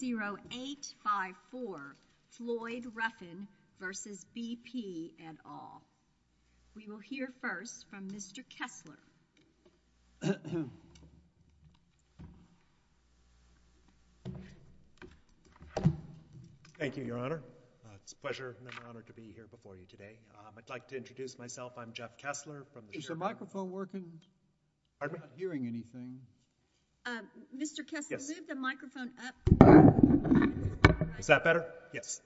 0854 Floyd Ruffin v. BP, et al. We will hear first from Mr. Kessler. Thank you, Your Honor. It's a pleasure and an honor to be here before you today. I'd like to introduce myself. I'm Jeff Kessler. Is the microphone working? Pardon me? I'm not hearing anything. Mr. Kessler? Yes. Could you give the microphone up? Is that better? Yes.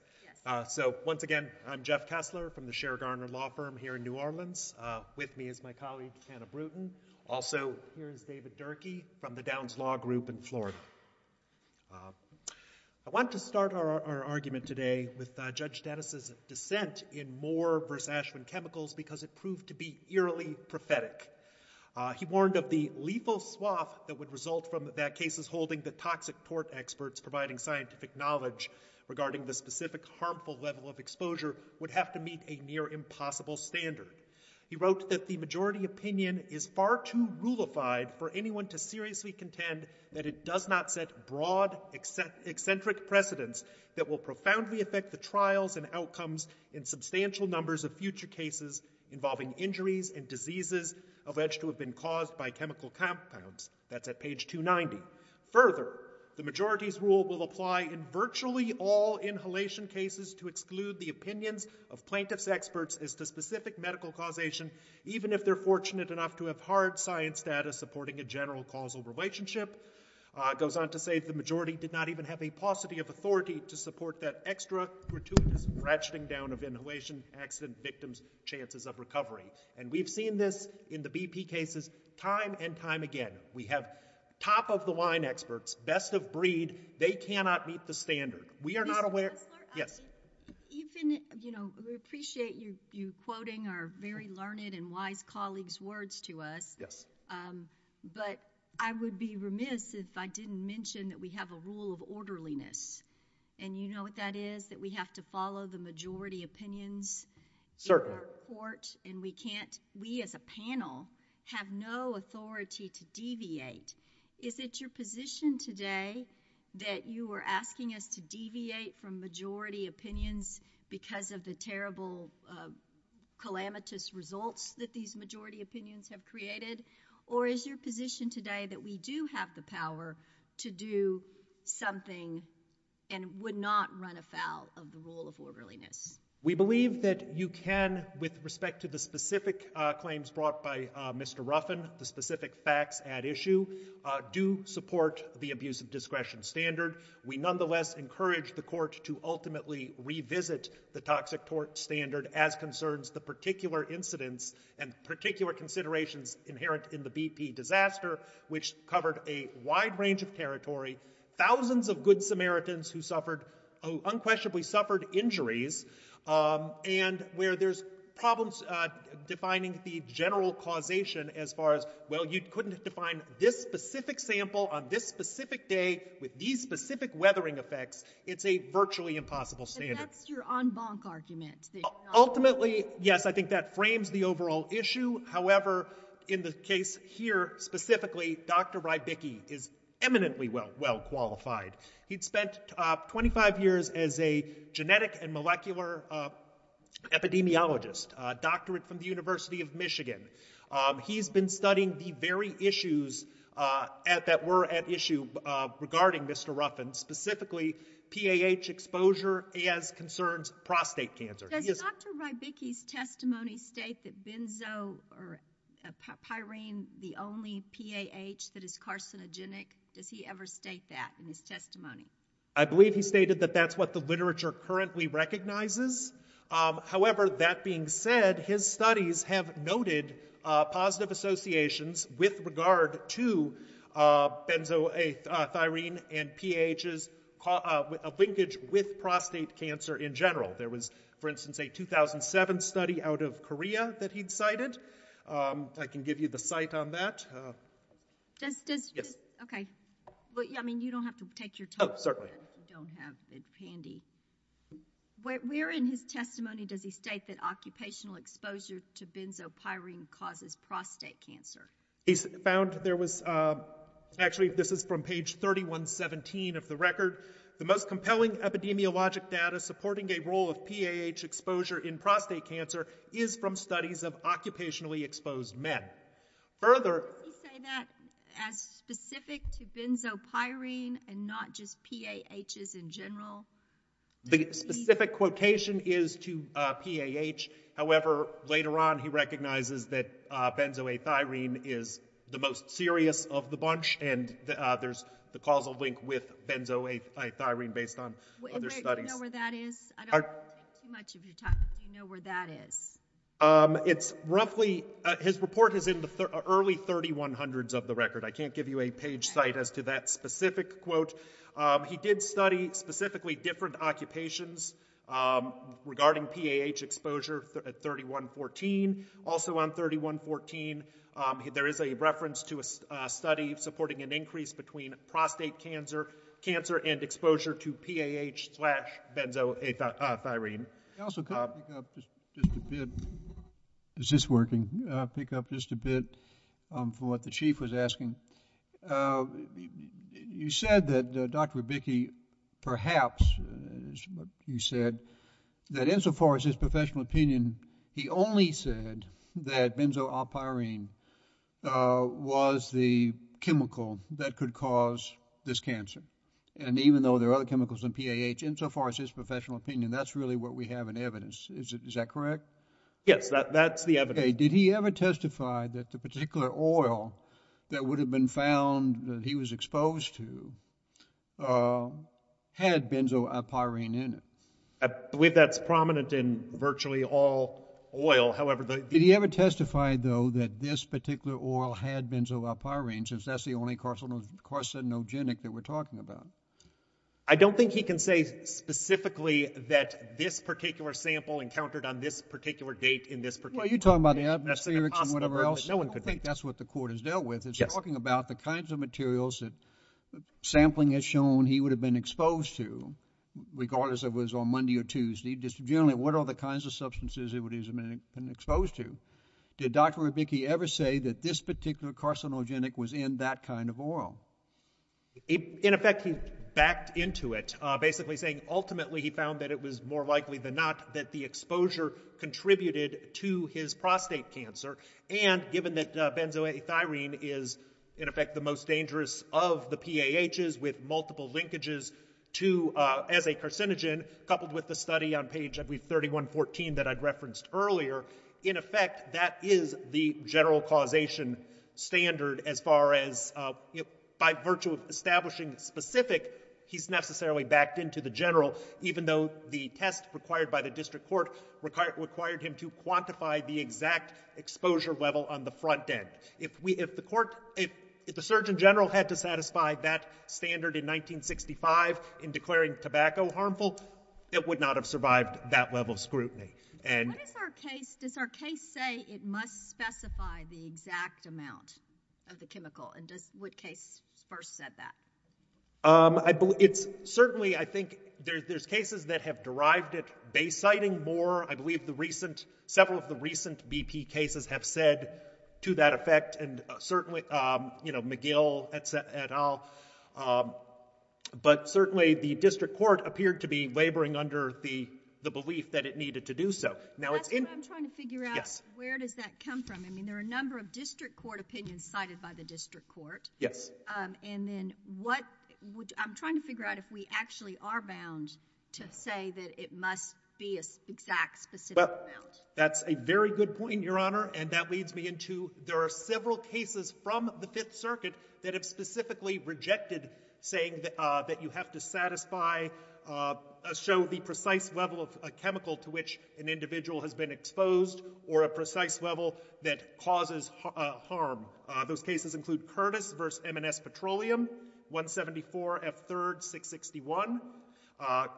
Yes. So, once again, I'm Jeff Kessler from the Scher, Garner Law Firm here in New Orleans. With me is my colleague, Hannah Bruton. Also here is David Durkee from the Downs Law Group in Florida. I want to start our argument today with Judge Dennis' dissent in Moore v. Ashwin Chemicals because it proved to be eerily prophetic. He warned of the lethal swath that would result from that case's holding that toxic tort experts providing scientific knowledge regarding the specific harmful level of exposure would have to meet a near-impossible standard. He wrote that the majority opinion is far too rulified for anyone to seriously contend that it does not set broad, eccentric precedents that will profoundly affect the trials and outcomes in substantial numbers of future cases involving injuries and diseases alleged to have been caused by chemical compounds. That's at page 290. Further, the majority's rule will apply in virtually all inhalation cases to exclude the opinions of plaintiff's experts as to specific medical causation, even if they're fortunate enough to have hard science data supporting a general causal relationship. Goes on to say the majority did not even have a paucity of authority to support that extra gratuitous ratcheting down of inhalation accident victims' chances of recovery. And we've seen this in the BP cases time and time again. We have top-of-the-line experts, best-of-breed, they cannot meet the standard. We are not aware- Mr. Kessler? Yes. Even, you know, we appreciate you quoting our very learned and wise colleagues' words to us, but I would be remiss if I didn't mention that we have a rule of orderliness. And you know what that is? That we have to follow the majority opinions in our court, and we can't, we as a panel, have no authority to deviate. Is it your position today that you are asking us to deviate from majority opinions because of the terrible, calamitous results that these majority opinions have created? Or is your position today that we do have the power to do something and would not run afoul of the rule of orderliness? We believe that you can, with respect to the specific claims brought by Mr. Ruffin, the specific facts at issue, do support the abuse of discretion standard. We nonetheless encourage the court to ultimately revisit the toxic tort standard as concerns the particular incidents and particular considerations inherent in the BP disaster, which covered a wide range of territory, thousands of good Samaritans who suffered, who unquestionably suffered injuries, um, and where there's problems, uh, defining the general causation as far as, well, you couldn't define this specific sample on this specific day with these specific weathering effects. It's a virtually impossible standard. And that's your en banc argument? Ultimately, yes, I think that frames the overall issue. However, in the case here specifically, Dr. Rybicki is eminently well, well qualified. He'd spent 25 years as a genetic and molecular epidemiologist, a doctorate from the University of Michigan. Um, he's been studying the very issues, uh, at, that were at issue, uh, regarding Mr. Ruffin, specifically PAH exposure as concerns prostate cancer. Does Dr. Rybicki's testimony state that benzo, or pyrene, the only PAH that is carcinogenic? Does he ever state that in his testimony? I believe he stated that that's what the literature currently recognizes. Um, however, that being said, his studies have noted, uh, positive associations with regard to, uh, benzo, uh, thyrine and PAHs, uh, a linkage with prostate cancer in general. There was, for instance, a 2007 study out of Korea that he'd cited. Um, I can give you the site on that. Uh, does, does, does, okay, well, yeah, I mean, you don't have to take your time, but if you don't have it handy, where, where in his testimony does he state that occupational exposure to benzo pyrene causes prostate cancer? He found there was, um, actually this is from page 3117 of the record, the most compelling epidemiologic data supporting a role of PAH exposure in prostate cancer is from studies of occupationally exposed men. Further... Does he say that as specific to benzo pyrene and not just PAHs in general? The specific quotation is to, uh, PAH, however, later on he recognizes that, uh, benzoethyrene is the most serious of the bunch and, uh, there's the causal link with benzoethyrene based on other studies. Do you know where that is? I don't want to take too much of your time, but do you know where that is? Um, it's roughly, uh, his report is in the early 3100s of the record. I can't give you a page site as to that specific quote. Um, he did study specifically different occupations, um, regarding PAH exposure at 3114. Also on 3114, um, there is a reference to a, a study supporting an increase between prostate cancer, cancer and exposure to PAH slash benzoethyrene. I also could pick up just a bit. Is this working? Uh, pick up just a bit, um, for what the chief was asking. Uh, you said that, uh, Dr. Wibicki perhaps, uh, you said that insofar as his professional opinion, he only said that benzoylpyrene, uh, was the chemical that could cause this cancer. And even though there are other chemicals in PAH, insofar as his professional opinion, that's really what we have in evidence. Is it, is that correct? Yes, that, that's the evidence. Okay. Did he ever testify that the particular oil that would have been found that he was exposed to, uh, had benzoylpyrene in it? I believe that's prominent in virtually all oil. However, the... Did he ever testify, though, that this particular oil had benzoylpyrene, since that's the only carcinogenic that we're talking about? I don't think he can say specifically that this particular sample encountered on this particular date in this particular... Well, you're talking about the atmospherics and whatever else. I don't think that's what the court has dealt with. It's talking about the kinds of materials that sampling has shown he would have been or Tuesday, just generally what are the kinds of substances that he would have been exposed to. Did Dr. Rabicki ever say that this particular carcinogenic was in that kind of oil? In effect, he backed into it, basically saying ultimately he found that it was more likely than not that the exposure contributed to his prostate cancer. And given that benzoylpyrene is, in effect, the most dangerous of the PAHs with multiple the study on page 3114 that I'd referenced earlier, in effect, that is the general causation standard as far as... By virtue of establishing specific, he's necessarily backed into the general, even though the test required by the district court required him to quantify the exact exposure level on the front end. If we... If the court... If the Surgeon General had to satisfy that standard in 1965 in declaring tobacco harmful, it would not have survived that level of scrutiny. And... What does our case... Does our case say it must specify the exact amount of the chemical? And does... What case first said that? I believe... It's certainly, I think, there's cases that have derived it base citing more. I believe the recent, several of the recent BP cases have said to that effect and certainly, you know, McGill et al. But certainly, the district court appeared to be laboring under the belief that it needed to do so. Now, it's in... That's what I'm trying to figure out. Yes. Where does that come from? I mean, there are a number of district court opinions cited by the district court. Yes. And then, what... I'm trying to figure out if we actually are bound to say that it must be an exact, specific amount. Well, that's a very good point, Your Honor, and that leads me into there are several cases from the Fifth Circuit that have specifically rejected saying that you have to satisfy, show the precise level of a chemical to which an individual has been exposed or a precise level that causes harm. Those cases include Curtis v. M&S Petroleum, 174 F. 3rd, 661,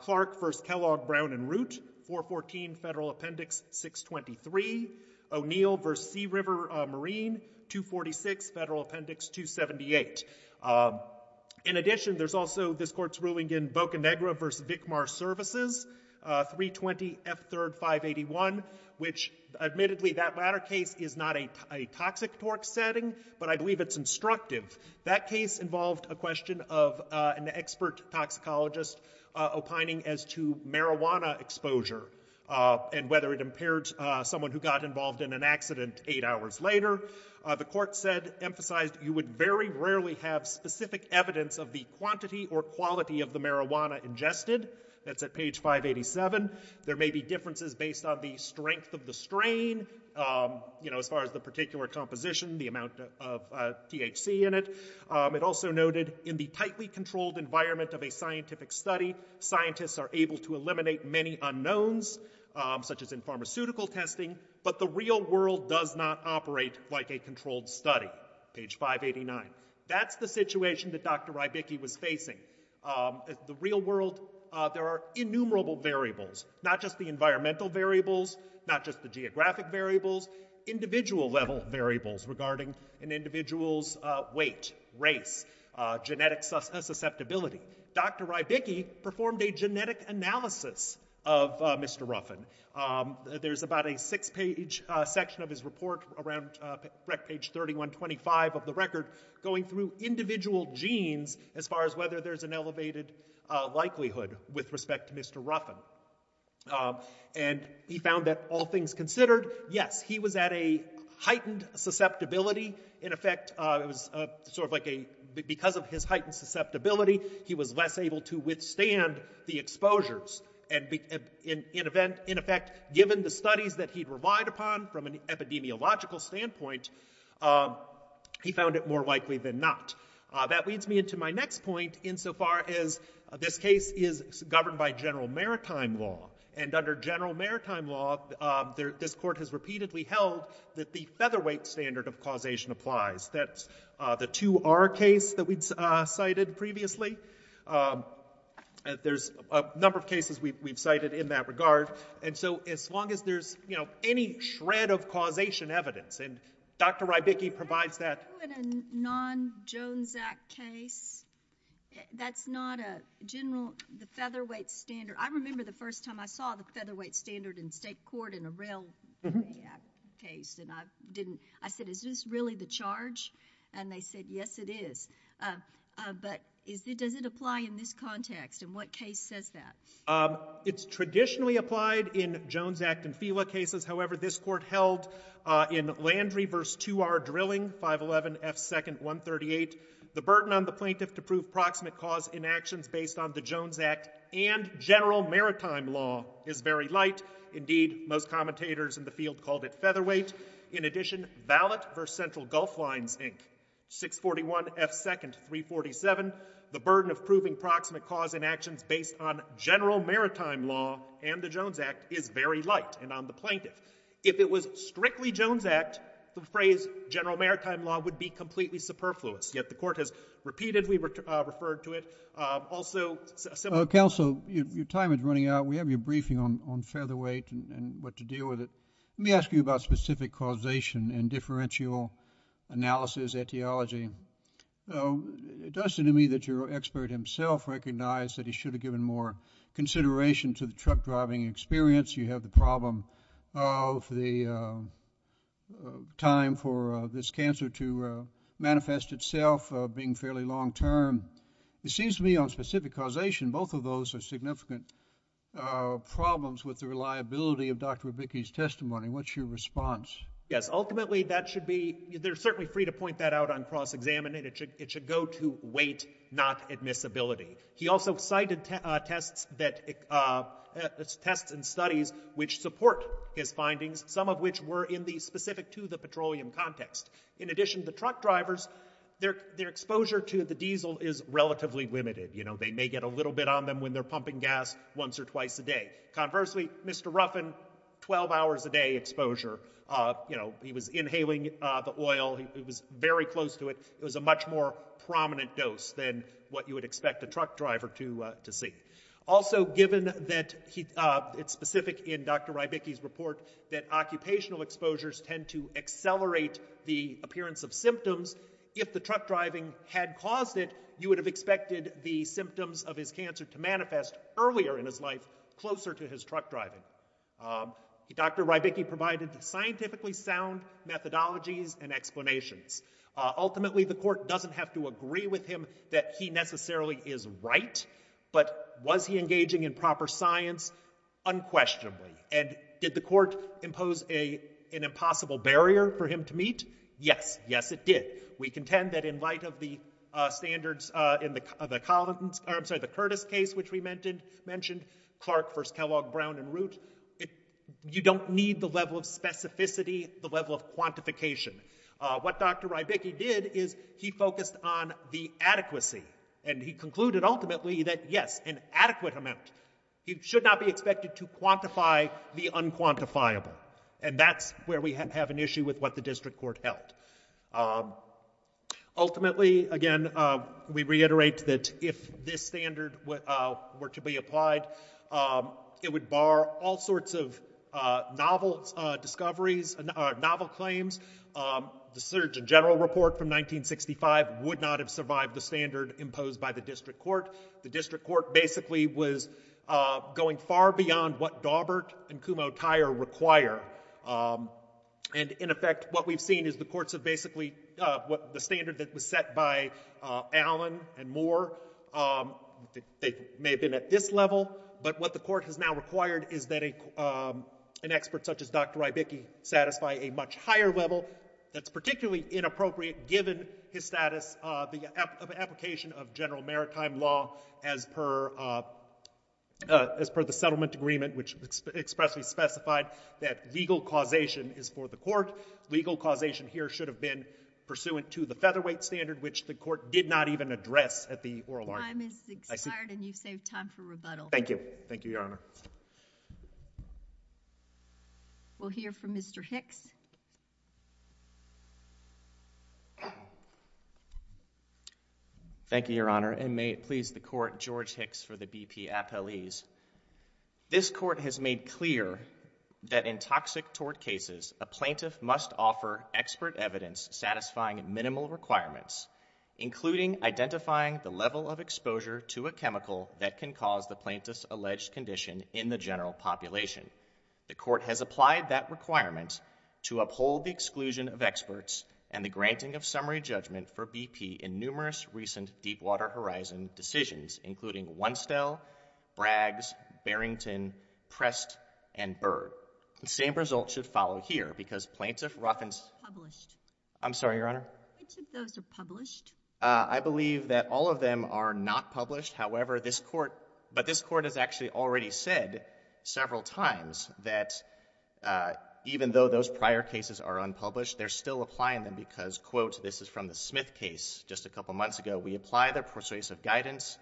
Clark v. Kellogg, Brown & Root, 414 Federal Appendix 623, O'Neill v. Sea River Marine, 246 Federal Appendix 278. In addition, there's also this court's ruling in Boca Negra v. Vicmar Services, 320 F. 3rd, 581, which admittedly, that latter case is not a toxic torque setting, but I believe it's instructive. That case involved a question of an expert toxicologist opining as to marijuana exposure and whether it impaired someone who got involved in an accident eight hours later. The court said, emphasized, you would very rarely have specific evidence of the quantity or quality of the marijuana ingested. That's at page 587. There may be differences based on the strength of the strain, as far as the particular composition, the amount of THC in it. It also noted, in the tightly controlled environment of a scientific study, scientists are able to eliminate many unknowns, such as in pharmaceutical testing, but the real world does not operate like a controlled study, page 589. That's the situation that Dr. Rybicki was facing. The real world, there are innumerable variables, not just the environmental variables, not the geographic variables, individual-level variables regarding an individual's weight, race, genetic susceptibility. Dr. Rybicki performed a genetic analysis of Mr. Ruffin. There's about a six-page section of his report, around page 3125 of the record, going through individual genes, as far as whether there's an elevated likelihood with respect to Mr. Ruffin. And he found that, all things considered, yes, he was at a heightened susceptibility. In effect, it was sort of like a, because of his heightened susceptibility, he was less able to withstand the exposures. And in effect, given the studies that he'd relied upon from an epidemiological standpoint, he found it more likely than not. That leads me into my next point, insofar as this case is governed by general maritime law. And under general maritime law, this court has repeatedly held that the featherweight standard of causation applies. That's the 2R case that we'd cited previously. There's a number of cases we've cited in that regard. And so as long as there's any shred of causation evidence, and Dr. Rybicki provides that. So in a non-Jones Act case, that's not a general, the featherweight standard, I remember the first time I saw the featherweight standard in state court in a rail case, and I didn't, I said, is this really the charge? And they said, yes, it is. But does it apply in this context, and what case says that? It's traditionally applied in Jones Act and FIWA cases, however this court held in Landry v. 2R Drilling, 511 F. 2nd, 138, the burden on the plaintiff to prove proximate cause in actions based on the Jones Act and general maritime law is very light, indeed, most commentators in the field called it featherweight. In addition, Ballot v. Central Gulf Lines, Inc., 641 F. 2nd, 347, the burden of proving proximate cause in actions based on general maritime law and the Jones Act is very light and on the plaintiff. If it was strictly Jones Act, the phrase general maritime law would be completely superfluous, yet the court has repeatedly referred to it. Also similar- Counsel, your time is running out, we have your briefing on featherweight and what to deal with it. Let me ask you about specific causation and differential analysis etiology. It does seem to me that your expert himself recognized that he should have given more consideration to the truck driving experience. You have the problem of the time for this cancer to manifest itself being fairly long-term. It seems to me on specific causation, both of those are significant problems with the reliability of Dr. Wibicki's testimony. What's your response? Yes, ultimately that should be, they're certainly free to point that out on cross-examining. It should go to weight, not admissibility. He also cited tests and studies which support his findings, some of which were in the specific to the petroleum context. In addition, the truck drivers, their exposure to the diesel is relatively limited. They may get a little bit on them when they're pumping gas once or twice a day. Conversely, Mr. Ruffin, 12 hours a day exposure. He was inhaling the oil, he was very close to it. It was a much more prominent dose than what you would expect a truck driver to see. Also given that it's specific in Dr. Wibicki's report that occupational exposures tend to accelerate the appearance of symptoms, if the truck driving had caused it, you would have expected the symptoms of his cancer to manifest earlier in his life, closer to his truck driving. Dr. Wibicki provided scientifically sound methodologies and explanations. Ultimately, the court doesn't have to agree with him that he necessarily is right, but was he engaging in proper science? Unquestionably. And did the court impose an impossible barrier for him to meet? Yes. Yes, it did. We contend that in light of the standards in the Curtis case, which we mentioned, Clark v. Kellogg, Brown v. Root, you don't need the level of specificity, the level of quantification. What Dr. Wibicki did is he focused on the adequacy. And he concluded, ultimately, that yes, an adequate amount. You should not be expected to quantify the unquantifiable. And that's where we have an issue with what the district court held. Ultimately, again, we reiterate that if this standard were to be applied, it would bar all sorts of novel discoveries, novel claims. The Surgeon General Report from 1965 would not have survived the standard imposed by the district court. The district court basically was going far beyond what Daubert and Kumho-Tyre require. And in effect, what we've seen is the courts have basically, the standard that was set by Allen and Moore, they may have been at this level, but what the court has now required is that an expert such as Dr. Wibicki satisfy a much higher level that's particularly inappropriate given his status, the application of general maritime law as per the settlement agreement, which expressly specified that legal causation is for the court. Legal causation here should have been pursuant to the featherweight standard, which the court did not even address at the oral argument. Time has expired, and you've saved time for rebuttal. Thank you. Thank you, Your Honor. We'll hear from Mr. Hicks. Thank you, Your Honor, and may it please the court, George Hicks for the BP Appellees. This court has made clear that in toxic tort cases, a plaintiff must offer expert evidence satisfying minimal requirements, including identifying the level of exposure to a chemical that can cause the plaintiff's alleged condition in the general population. The court has applied that requirement to uphold the exclusion of experts and the granting of summary judgment for BP in numerous recent Deepwater Horizon decisions, including Onestell, Braggs, Barrington, Prest, and Burr. The same result should follow here, because plaintiff Ruffin's... Published. I'm sorry, Your Honor. Which of those are published? I believe that all of them are not published. However, this court... But this court has actually already said several times that even though those prior cases are unpublished, they're still applying them, because, quote, this is from the Smith case just a couple of months ago, we apply the persuasive guidance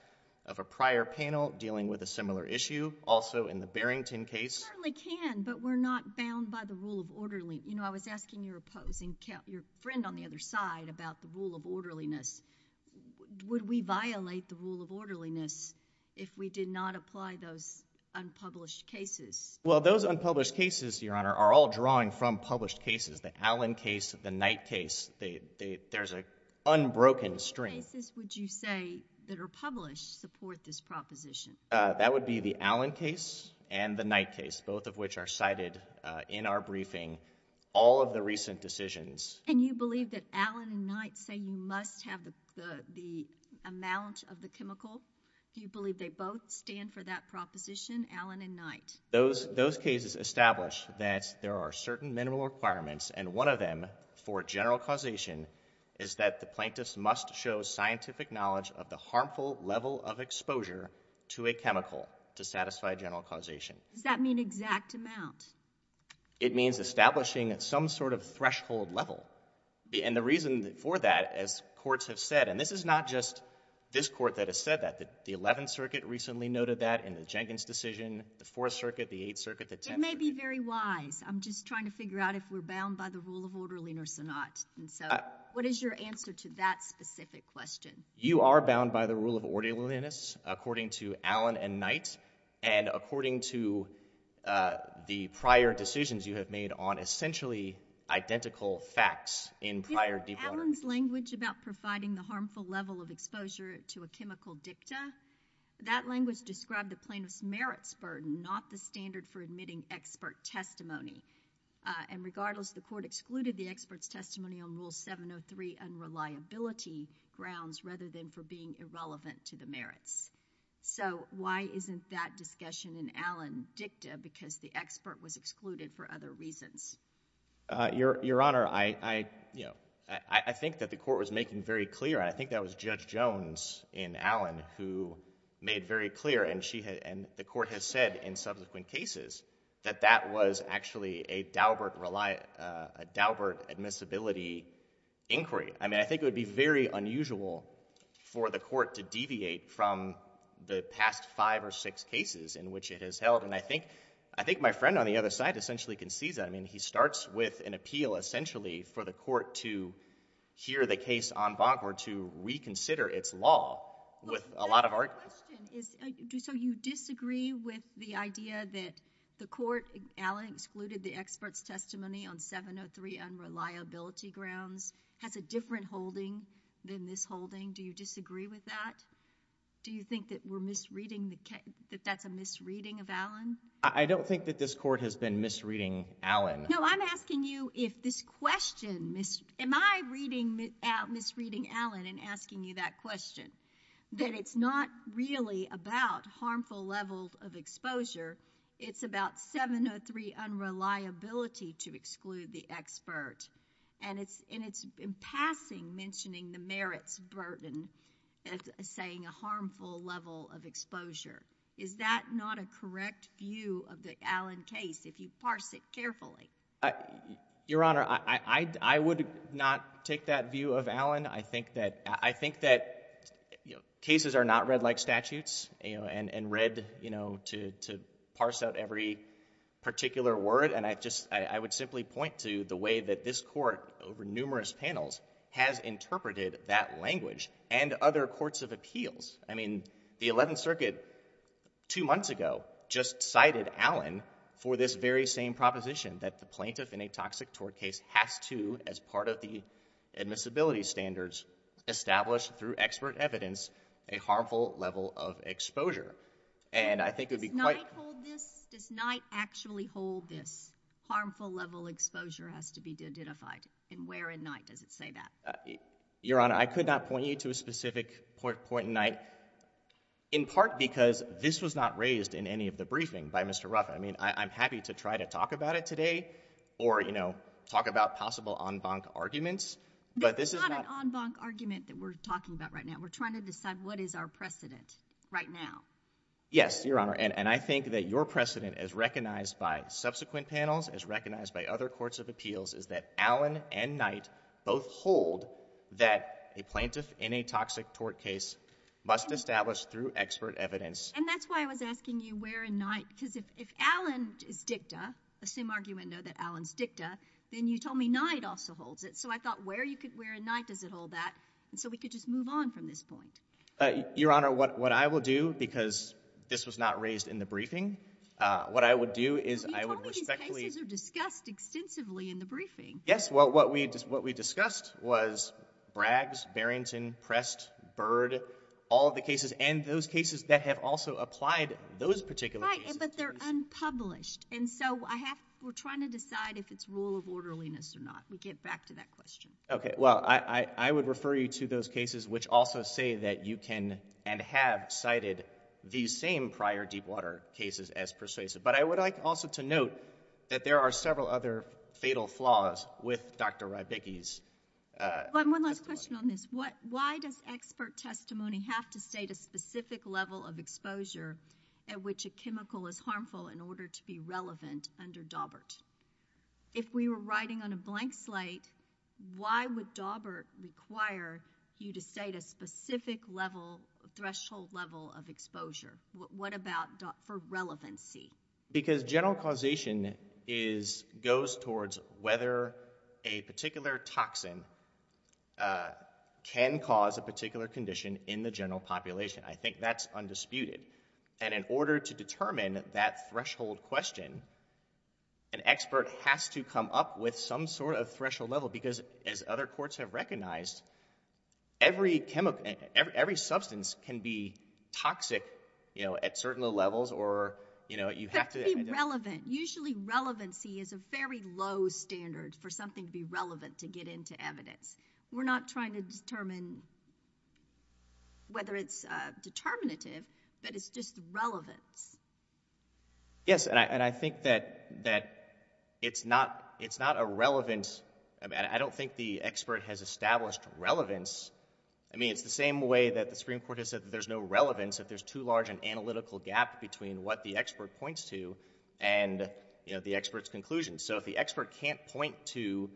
of a prior panel dealing with a similar issue. Also in the Barrington case... We certainly can, but we're not bound by the rule of orderly... You know, I was asking your opposing... Your friend on the other side about the rule of orderliness. Would we violate the rule of orderliness if we did not apply those unpublished cases? Well, those unpublished cases, Your Honor, are all drawing from published cases. The Allen case, the Knight case, there's an unbroken stream. Which cases would you say that are published support this proposition? That would be the Allen case and the Knight case, both of which are cited in our briefing. All of the recent decisions... And you believe that Allen and Knight say you must have the amount of the chemical? You believe they both stand for that proposition, Allen and Knight? Those cases establish that there are certain minimal requirements, and one of them for general causation is that the plaintiff must show scientific knowledge of the harmful level of exposure to a chemical to satisfy general causation. Does that mean exact amount? It means establishing some sort of threshold level. And the reason for that, as courts have said, and this is not just this court that has said that, the 11th Circuit recently noted that in the Jenkins decision, the 4th Circuit, the 8th Circuit, the 10th Circuit. It may be very wise. I'm just trying to figure out if we're bound by the rule of orderliness or not, and so what is your answer to that specific question? You are bound by the rule of orderliness, according to Allen and Knight, and according to the prior decisions you have made on essentially identical facts in prior deep learning. You know, Allen's language about providing the harmful level of exposure to a chemical dicta, that language described the plaintiff's merits burden, not the standard for admitting expert testimony. And regardless, the court excluded the expert's testimony on Rule 703 unreliability grounds rather than for being irrelevant to the merits. So why isn't that discussion in Allen dicta? Because the expert was excluded for other reasons. Your Honor, I think that the court was making very clear, and I think that was Judge Jones in Allen who made very clear, and the court has said in subsequent cases, that that was actually a Daubert admissibility inquiry. I mean, I think it would be very unusual for the court to deviate from the past five or six cases in which it has held, and I think my friend on the other side essentially concedes that. I mean, he starts with an appeal, essentially, for the court to hear the case en banc or to reconsider its law with a lot of argument. So my question is, so you disagree with the idea that the court, Allen excluded the expert's testimony on 703 unreliability grounds, has a different holding than this holding? Do you disagree with that? Do you think that we're misreading, that that's a misreading of Allen? I don't think that this court has been misreading Allen. No, I'm asking you if this question, am I reading, misreading Allen and asking you that question, that it's not really about harmful levels of exposure, it's about 703 unreliability to exclude the expert, and it's in passing mentioning the merits burden as saying a harmful level of exposure. Is that not a correct view of the Allen case, if you parse it carefully? Your Honor, I would not take that view of Allen. I think that cases are not read like statutes and read to parse out every particular word, and I would simply point to the way that this court, over numerous panels, has interpreted that language and other courts of appeals. I mean, the Eleventh Circuit, two months ago, just cited Allen for this very same proposition that the plaintiff in a toxic tort case has to, as part of the admissibility standards, establish through expert evidence, a harmful level of exposure. And I think it would be quite- Does Knight hold this? Does Knight actually hold this? Harmful level exposure has to be identified, and where in Knight does it say that? Your Honor, I could not point you to a specific point in Knight, in part because this was not raised in any of the briefing by Mr. Ruff. I mean, I'm happy to try to talk about it today or, you know, talk about possible en banc arguments, but this is not- There's not an en banc argument that we're talking about right now. We're trying to decide what is our precedent right now. Yes, Your Honor, and I think that your precedent, as recognized by subsequent panels, as recognized by other courts of appeals, is that Allen and Knight both hold that a plaintiff in a toxic tort case must establish through expert evidence. And that's why I was asking you where in Knight, because if Allen is dicta, assume argument that Allen's dicta, then you told me Knight also holds it, so I thought where in Knight does it hold that, and so we could just move on from this point. Your Honor, what I will do, because this was not raised in the briefing, what I would do is I would respectfully- But you told me these cases are discussed extensively in the briefing. Yes, well, what we discussed was Braggs, Barrington, Prest, Byrd, all of the cases, and those cases that have also applied those particular cases to these- Right, but they're unpublished, and so I have, we're trying to decide if it's rule of orderliness or not. We get back to that question. Okay, well, I would refer you to those cases which also say that you can and have cited these same prior deepwater cases as persuasive. But I would like also to note that there are several other fatal flaws with Dr. Rybicki's testimony. One is a threshold level of exposure at which a chemical is harmful in order to be relevant under Daubert. If we were writing on a blank slate, why would Daubert require you to state a specific threshold level of exposure? What about for relevancy? Because general causation goes towards whether a particular toxin can cause a particular condition in the general population. I think that's undisputed. And in order to determine that threshold question, an expert has to come up with some sort of threshold level because as other courts have recognized, every chemical, every substance can be toxic, you know, at certain levels or, you know, you have to- But be relevant. Usually relevancy is a very low standard for something to be relevant to get into evidence. We're not trying to determine whether it's determinative, but it's just relevance. Yes, and I think that it's not a relevant- I mean, I don't think the expert has established relevance. I mean, it's the same way that the Supreme Court has said that there's no relevance if there's too large an analytical gap between what the expert points to and, you know, the expert's conclusion. So if the expert can't point to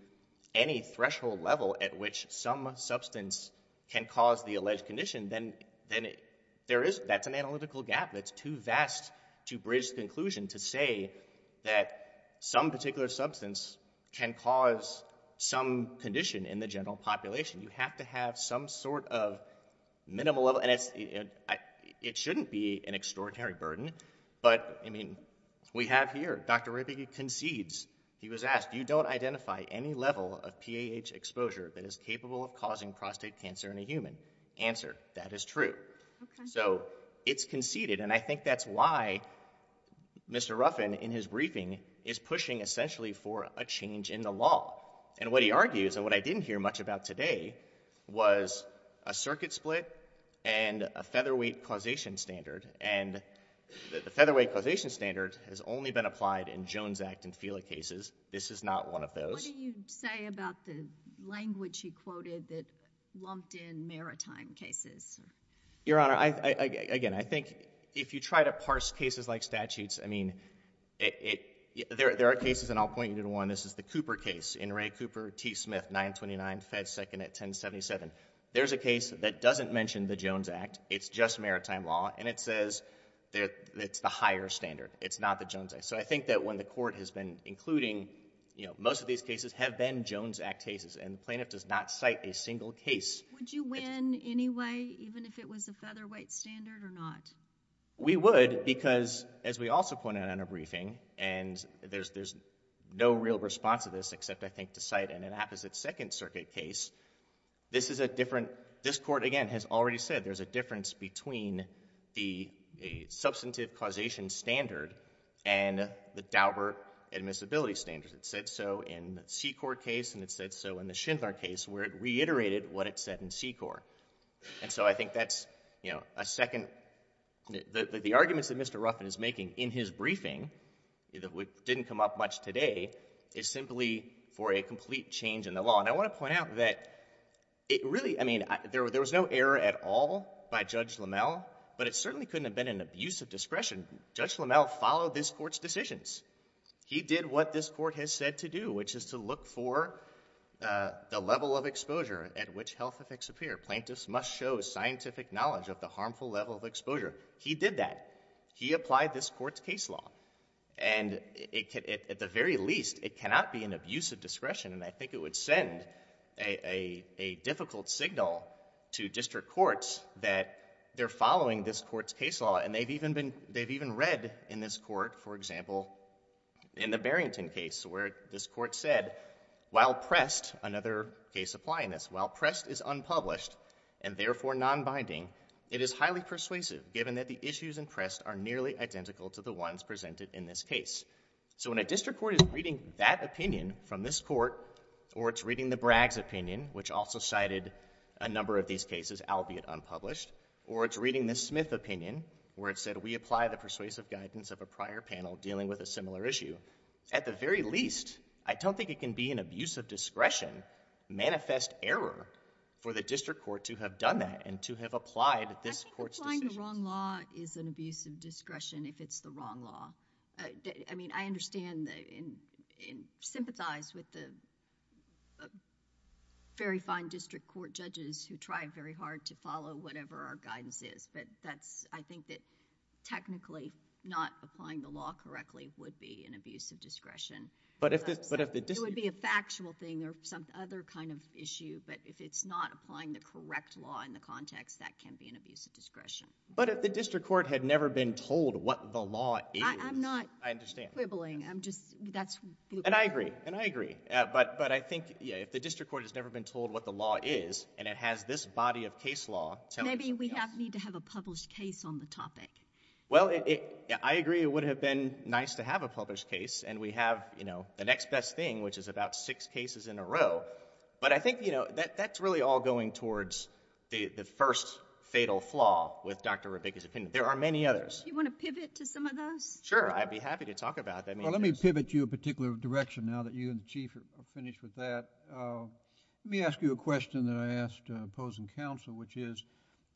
any threshold level at which some substance can cause the alleged condition, then that's an analytical gap that's too vast to bridge the conclusion to say that some particular substance can cause some condition in the general population. You have to have some sort of minimal level- and it shouldn't be an extraordinary burden, but, I mean, we have here, Dr. Ripke concedes, he was asked, you don't identify any level of PAH exposure that is capable of causing prostate cancer in a human. Answer, that is true. So it's conceded, and I think that's why Mr. Ruffin, in his briefing, is pushing essentially for a change in the law. And what he argues, and what I didn't hear much about today, was a circuit split and a featherweight causation standard, and the featherweight causation standard has only been applied in Jones Act and FILA cases. This is not one of those. What do you say about the language he quoted that lumped in maritime cases? Your Honor, again, I think if you try to parse cases like statutes, I mean, there are cases, and I'll point you to one. This is the Cooper case. In Ray Cooper, T. Smith, 929, fed second at 1077. There's a case that doesn't mention the Jones Act. It's just maritime law, and it says it's the higher standard. It's not the Jones Act. So I think that when the court has been including, you know, most of these cases have been Jones Act cases, and the plaintiff does not cite a single case. Would you win anyway, even if it was a featherweight standard or not? We would, because, as we also pointed out in our briefing, and there's no real response to this except, I think, to cite in an apposite second circuit case. This is a different—this court, again, has already said there's a difference between the substantive causation standard and the Dauber admissibility standard. It said so in the Secor case, and it said so in the Schindler case, where it reiterated what it said in Secor. And so I think that's, you know, a second—the arguments that Mr. Ruffin is making in his briefing, which didn't come up much today, is simply for a complete change in the law. And I want to point out that it really—I mean, there was no error at all by Judge Lammel, but it certainly couldn't have been an abuse of discretion. Judge Lammel followed this court's decisions. He did what this court has said to do, which is to look for the level of exposure at which health effects appear. Plaintiffs must show scientific knowledge of the harmful level of exposure. He did that. He applied this court's case law. And at the very least, it cannot be an abuse of discretion, and I think it would send a difficult signal to district courts that they're following this court's case law. And they've even been—they've even read in this court, for example, in the Barrington case where this court said, while pressed—another case applying this—while pressed is unpublished and therefore nonbinding, it is highly persuasive, given that the issues impressed are nearly identical to the ones presented in this case. So when a district court is reading that opinion from this court, or it's reading the Bragg's opinion, which also cited a number of these cases, albeit unpublished, or it's reading the Smith opinion, where it said, we apply the persuasive guidance of a prior panel dealing with a similar issue, at the very least, I don't think it can be an abuse of discretion, manifest error for the district court to have done that and to have applied this court's decision. I think applying the wrong law is an abuse of discretion if it's the wrong law. I mean, I understand and sympathize with the very fine district court judges who try very hard to follow whatever our guidance is, but that's—I think that technically not applying the law correctly would be an abuse of discretion. But if the— It would be a factual thing or some other kind of issue, but if it's not applying the correct law in the context, that can be an abuse of discretion. But if the district court had never been told what the law is— I'm not quibbling. I'm just—that's— And I agree. And I agree. But I think, you know, if the district court has never been told what the law is, and it has this body of case law telling us— Maybe we need to have a published case on the topic. Well, I agree it would have been nice to have a published case, and we have, you know, the next best thing, which is about six cases in a row. But I think, you know, that's really all going towards the first fatal flaw with Dr. Rabick's opinion. There are many others. Do you want to pivot to some of those? Sure. I'd be happy to talk about them. Well, let me pivot you a particular direction now that you and the Chief are finished with that. Let me ask you a question that I asked opposing counsel, which is,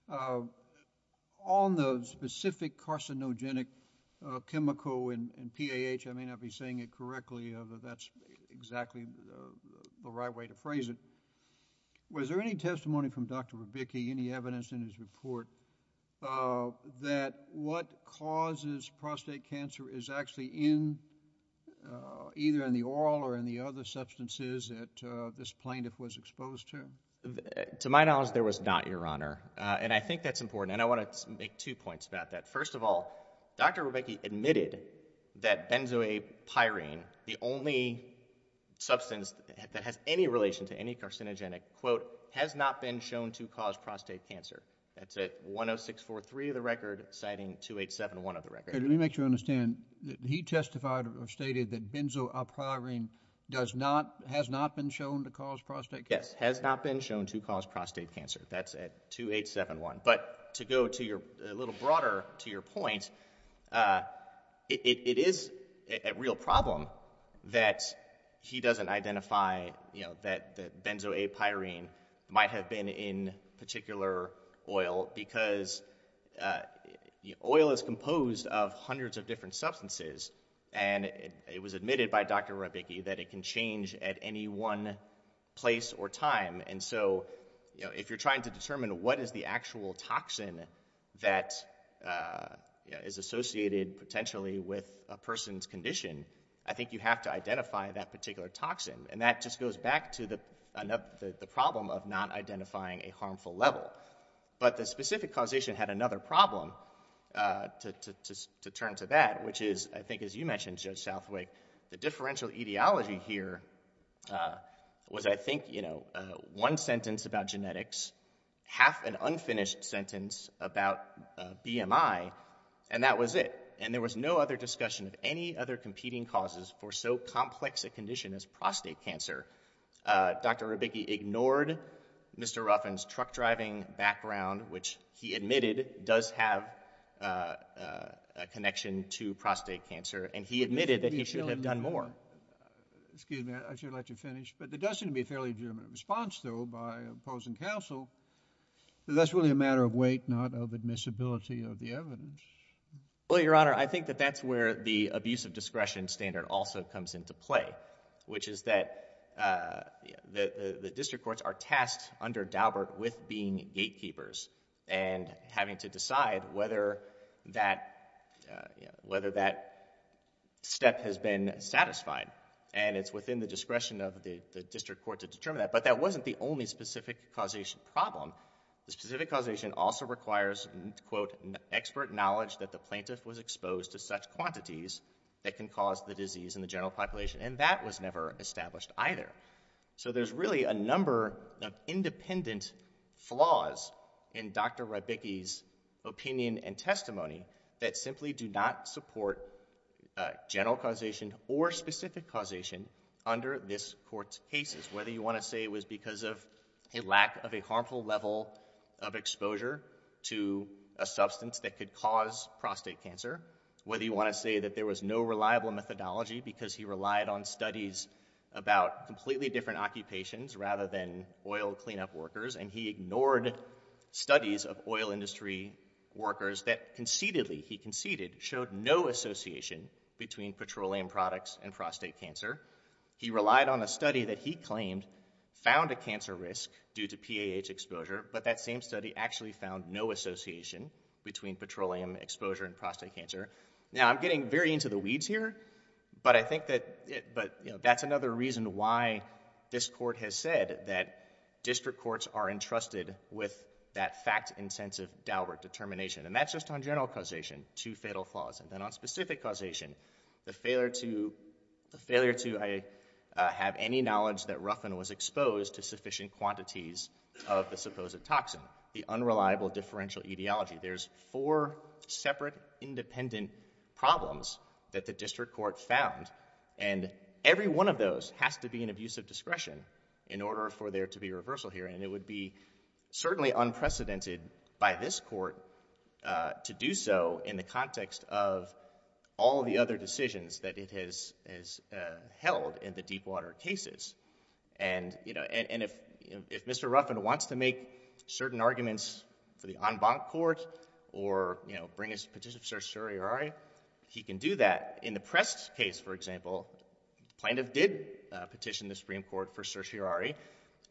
on the specific carcinogenic chemical in PAH—I may not be saying it correctly, although that's exactly the right way to phrase it—was there any testimony from Dr. Rabicki, any evidence in his report, that what causes prostate cancer is actually in—either in the oral or in the other substances that this plaintiff was exposed to? To my knowledge, there was not, Your Honor. And I think that's important. And I want to make two points about that. First of all, Dr. Rabicki admitted that benzoylpyrine, the only substance that has any relation to any carcinogenic, quote, has not been shown to cause prostate cancer. That's at 10643 of the record, citing 2871 of the record. Let me make sure I understand. He testified or stated that benzoylpyrine does not—has not been shown to cause prostate cancer? Yes. Has not been shown to cause prostate cancer. That's at 2871. But to go to your—a little broader to your point, it is a real problem that he doesn't identify, you know, that benzoylpyrine might have been in particular oil because oil is composed of hundreds of different substances. And it was admitted by Dr. Rabicki that it can change at any one place or time. And so, you know, if you're trying to determine what is the actual toxin that, you know, is associated potentially with a person's condition, I think you have to identify that particular toxin. And that just goes back to the problem of not identifying a harmful level. But the specific causation had another problem to turn to that, which is, I think as you mentioned, Judge Southwick, the differential etiology here was, I think, you know, one sentence about genetics, half an unfinished sentence about BMI, and that was it. And there was no other discussion of any other competing causes for so complex a condition as prostate cancer. Dr. Rabicki ignored Mr. Ruffin's truck driving background, which he admitted does have a connection to prostate cancer. And he admitted that he should have done more. Excuse me. I should let you finish. But there does seem to be a fairly gentle response, though, by opposing counsel that that's really a matter of weight, not of admissibility of the evidence. Well, Your Honor, I think that that's where the abuse of discretion standard also comes into play, which is that the district courts are tasked under Daubert with being gatekeepers and having to decide whether that step has been satisfied. And it's within the discretion of the district court to determine that. But that wasn't the only specific causation problem. The specific causation also requires, quote, expert knowledge that the plaintiff was exposed to such quantities that can cause the disease in the general population. And that was never established either. So there's really a number of independent flaws in Dr. Rabicki's opinion and testimony that simply do not support general causation or specific causation under this court's cases. Whether you want to say it was because of a lack of a harmful level of exposure to a substance that could cause prostate cancer, whether you want to say that there was no reliable methodology because he relied on studies about completely different occupations rather than oil cleanup workers, and he ignored studies of oil industry workers that concededly, he conceded, showed no association between petroleum products and prostate cancer. He relied on a study that he claimed found a cancer risk due to PAH exposure, but that same study actually found no association between petroleum exposure and prostate cancer. Now, I'm getting very into the weeds here, but I think that, you know, that's another reason why this court has said that district courts are entrusted with that fact-intensive Daubert determination. And that's just on general causation, two fatal flaws. And then on specific causation, the failure to have any knowledge that Ruffin was exposed to sufficient quantities of the supposed toxin, the unreliable differential etiology. There's four separate independent problems that the district court found, and every one of those has to be an abuse of discretion in order for there to be reversal here, and it would be certainly unprecedented by this court to do so in the context of all the other decisions that it has held in the Deepwater cases. And if Mr. Ruffin wants to make certain arguments for the en banc court or, you know, bring his petition for certiorari, he can do that. In the Prest case, for example, plaintiff did petition the Supreme Court for certiorari,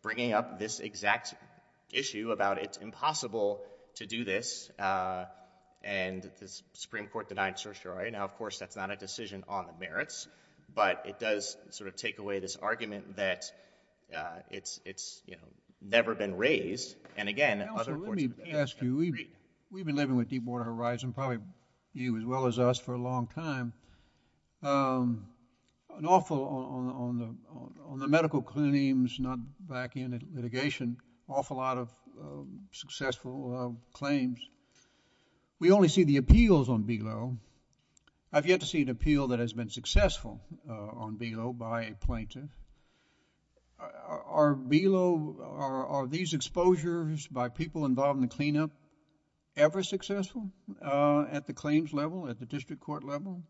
bringing up this exact issue about it's impossible to do this, and the Supreme Court denied certiorari. Now, of course, that's not a decision on the merits, but it does sort of take away this argument that it's, you know, never been raised, and again, other courts have agreed. Counselor, let me ask you. We've been living with Deepwater Horizon, probably you as well as us, for a long time. An awful, on the medical claims, not back in litigation, awful lot of successful claims. We only see the appeals on BGLO. I've yet to see an appeal that has been successful on BGLO by a plaintiff. Are BGLO, are these exposures by people involved in the cleanup ever successful at the claims level, at the district court level?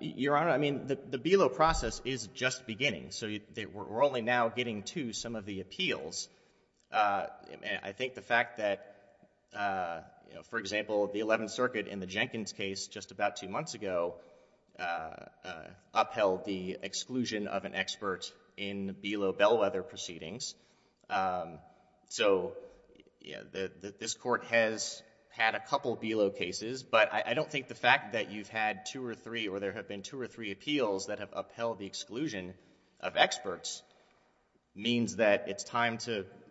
Your Honor, I mean, the BGLO process is just beginning, so we're only now getting to some of the appeals. I mean, I think the fact that, you know, for example, the 11th Circuit in the Jenkins case just about two months ago upheld the exclusion of an expert in BGLO bellwether proceedings. So, you know, this court has had a couple BGLO cases, but I don't think the fact that you've had two or three, or there have been two or three appeals that have upheld the BGLO,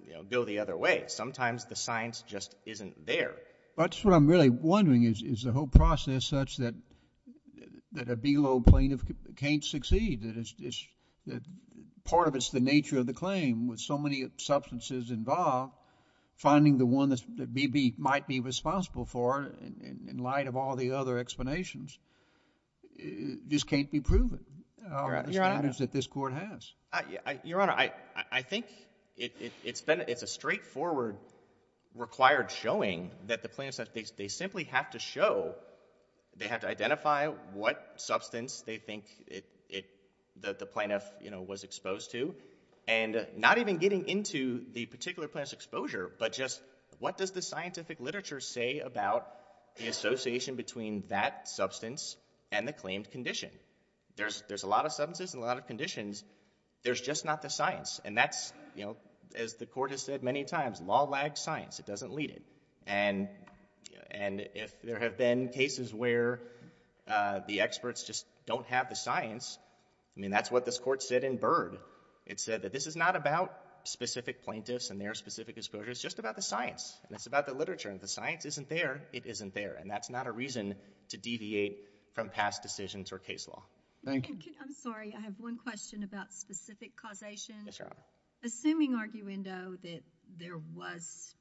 you know, go the other way. Sometimes the science just isn't there. But that's what I'm really wondering is, is the whole process such that a BGLO plaintiff can't succeed, that part of it's the nature of the claim with so many substances involved, finding the one that BB might be responsible for in light of all the other explanations, this can't be proven. Your Honor. The standards that this court has. Your Honor, I think it's a straightforward required showing that the plaintiffs, they simply have to show, they have to identify what substance they think that the plaintiff, you know, was exposed to, and not even getting into the particular plaintiff's exposure, but just what does the scientific literature say about the association between that substance and the claimed condition? There's a lot of substances and a lot of conditions. There's just not the science. And that's, you know, as the court has said many times, law lags science. It doesn't lead it. And if there have been cases where the experts just don't have the science, I mean, that's what this court said in Byrd. It said that this is not about specific plaintiffs and their specific exposures. It's just about the science. And it's about the literature. And if the science isn't there, it isn't there. And that's not a reason to deviate from past decisions or case law. Thank you. I'm sorry. I have one question about specific causation. Yes, Your Honor. Assuming arguendo that there was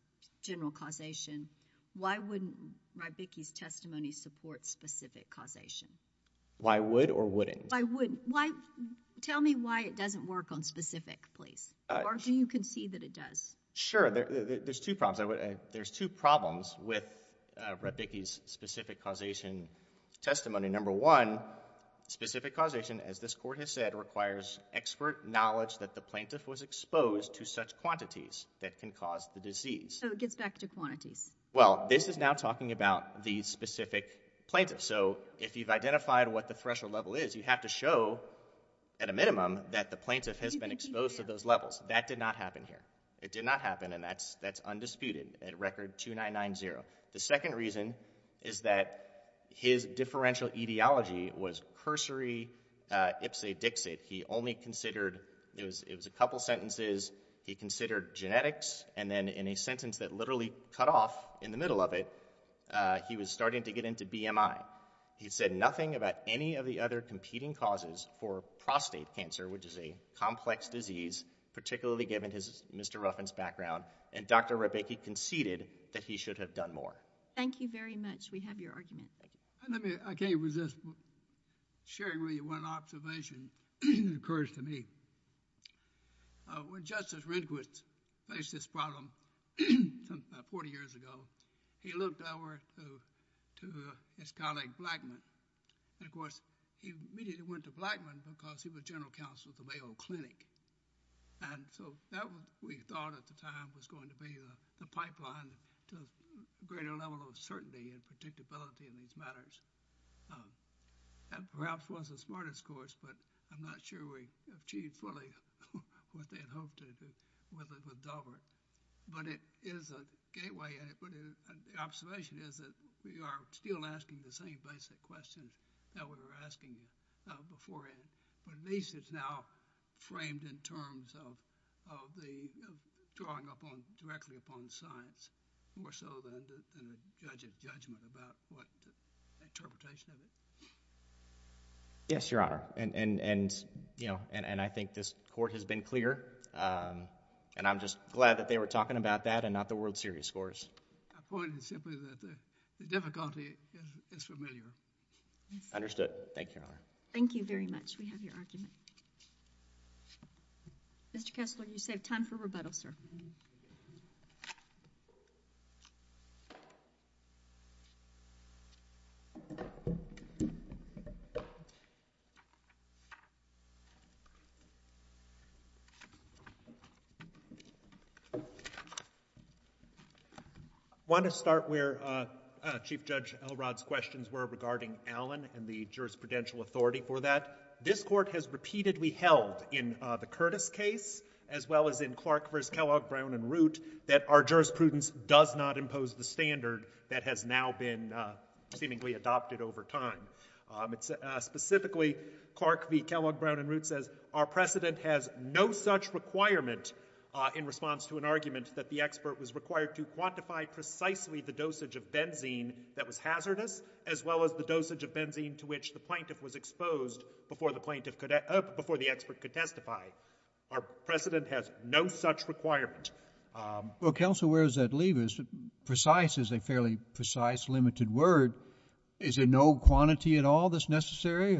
general causation, why wouldn't Radbicki's testimony support specific causation? Why would or wouldn't? Why wouldn't? Tell me why it doesn't work on specific, please. Or do you concede that it does? Sure. There's two problems. There's two problems with Radbicki's specific causation testimony. Number one, specific causation, as this court has said, requires expert knowledge that the plaintiff was exposed to such quantities that can cause the disease. So it gets back to quantities. Well, this is now talking about the specific plaintiff. So if you've identified what the threshold level is, you have to show at a minimum that the plaintiff has been exposed to those levels. That did not happen here. It did not happen. And that's undisputed. It's been at record 2990. The second reason is that his differential etiology was cursory ipsa dixit. He only considered, it was a couple sentences, he considered genetics, and then in a sentence that literally cut off in the middle of it, he was starting to get into BMI. He said nothing about any of the other competing causes for prostate cancer, which is a complex disease, particularly given his Mr. Ruffin's background. And Dr. Rebicki conceded that he should have done more. Thank you very much. We have your argument. I can't resist sharing with you one observation that occurs to me. When Justice Rehnquist faced this problem about 40 years ago, he looked over to his colleague Blackmon. And, of course, he immediately went to Blackmon because he was general counsel at the Mayo Clinic. And so that, we thought at the time, was going to be the pipeline to a greater level of certainty and predictability in these matters. That perhaps wasn't the smartest course, but I'm not sure we achieved fully what they had hoped with Daubert. But it is a gateway. And the observation is that we are still asking the same basic questions that we were asking beforehand. But at least it's now framed in terms of drawing directly upon science more so than a judge of judgment about what interpretation of it. Yes, Your Honor. And I think this Court has been clear. And I'm just glad that they were talking about that and not the World Series scores. My point is simply that the difficulty is familiar. Understood. Thank you, Your Honor. Thank you very much. We have your argument. Mr. Kessler, you save time for rebuttal, sir. I want to start where Chief Judge Elrod's questions were regarding Allen and the jurisprudential authority for that. This Court has repeatedly held in the Curtis case as well as in Clark v. Kellogg, Brown, and Root that our jurisprudence does not impose the standard that has now been seemingly adopted over time. Specifically, Clark v. Kellogg, Brown, and Root says, our precedent has no such requirement in response to an argument that the expert was required to quantify precisely the dosage of benzene that was hazardous as well as the dosage of benzene to which the plaintiff was exposed before the expert could testify. Our precedent has no such requirement. Counsel, where does that leave us? Precise is a fairly precise, limited word. Is there no quantity at all that's necessary?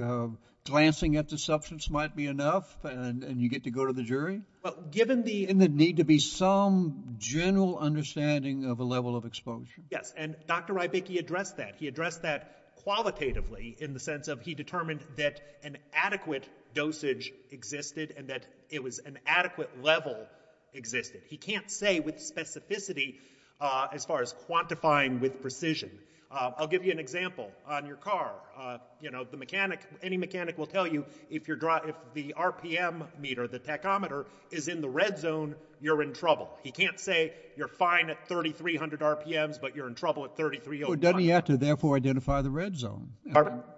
Glancing at the substance might be enough, and you get to go to the jury? Given the need to be some general understanding of a level of exposure. Yes, and Dr. Rybicki addressed that. He addressed that qualitatively in the sense of he determined that an adequate dosage existed and that it was an adequate level existed. He can't say with specificity as far as quantifying with precision. I'll give you an example. On your car, any mechanic will tell you if the RPM meter, the tachometer, is in the red zone, you're in trouble. He can't say you're fine at 3,300 RPMs, but you're in trouble at 3,300 RPMs. Well, doesn't he have to therefore identify the red zone?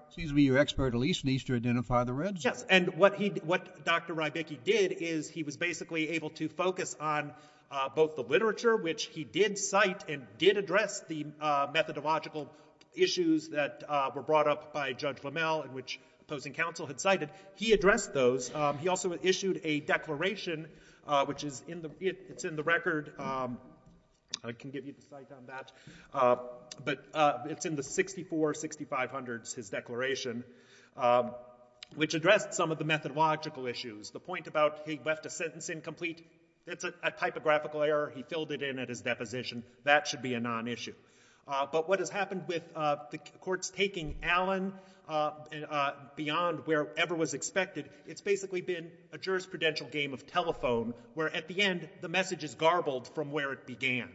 Excuse me, your expert at least needs to identify the red zone. Yes, and what Dr. Rybicki did is he was basically able to focus on both the literature, which he did cite and did address the methodological issues that were brought up by Judge Lamel, which opposing counsel had cited. He addressed those. He also issued a declaration, which is in the record. I can give you the site on that. But it's in the 64-6500s, his declaration, which addressed some of the methodological issues. The point about he left a sentence incomplete, that's a typographical error. He filled it in at his deposition. That should be a nonissue. But what has happened with the courts taking Allen beyond wherever was expected, it's basically been a jurisprudential game of telephone where at the end the message is garbled from where it began.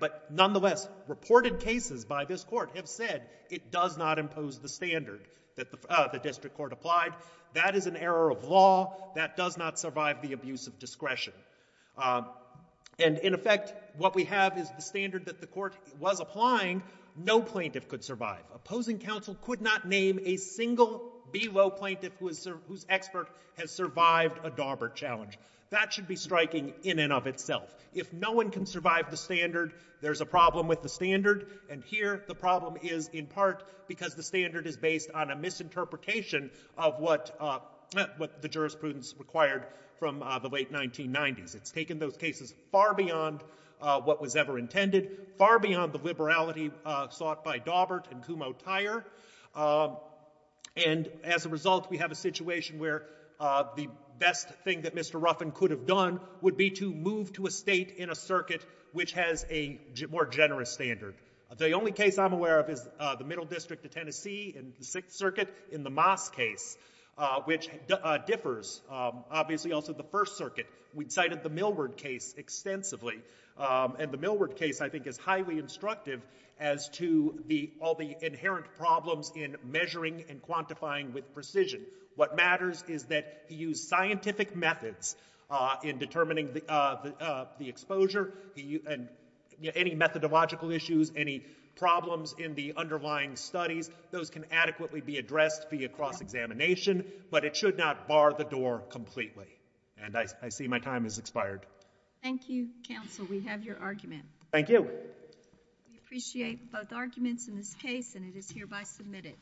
But nonetheless, reported cases by this court have said it does not impose the standard that the district court applied. That is an error of law. That does not survive the abuse of discretion. And in effect, what we have is the standard that the court was applying. No plaintiff could survive. Opposing counsel could not name a single below plaintiff whose expert has survived a Daubert challenge. That should be striking in and of itself. If no one can survive the standard, there's a problem with the standard. And here the problem is in part because the standard is based on a misinterpretation of what the jurisprudence required from the late 1990s. It's taken those cases far beyond what was ever intended, far beyond the liberality sought by Daubert and Kumho-Tyre. And as a result, we have a situation where the best thing that Mr. Ruffin could have done would be to move to a state in a circuit which has a more generous standard. The only case I'm aware of is the Middle District of Tennessee in the Sixth Circuit in the Moss case, which differs. Obviously also the First Circuit. We cited the Millward case extensively. And the Millward case, I think, is highly instructive as to all the inherent problems in measuring and quantifying with precision. What matters is that you use scientific methods in determining the exposure, and any methodological issues, any problems in the underlying studies, those can adequately be addressed via cross-examination, but it should not bar the door completely. And I see my time has expired. Thank you, counsel. We have your argument. Thank you. We appreciate both arguments in this case, and it is hereby submitted.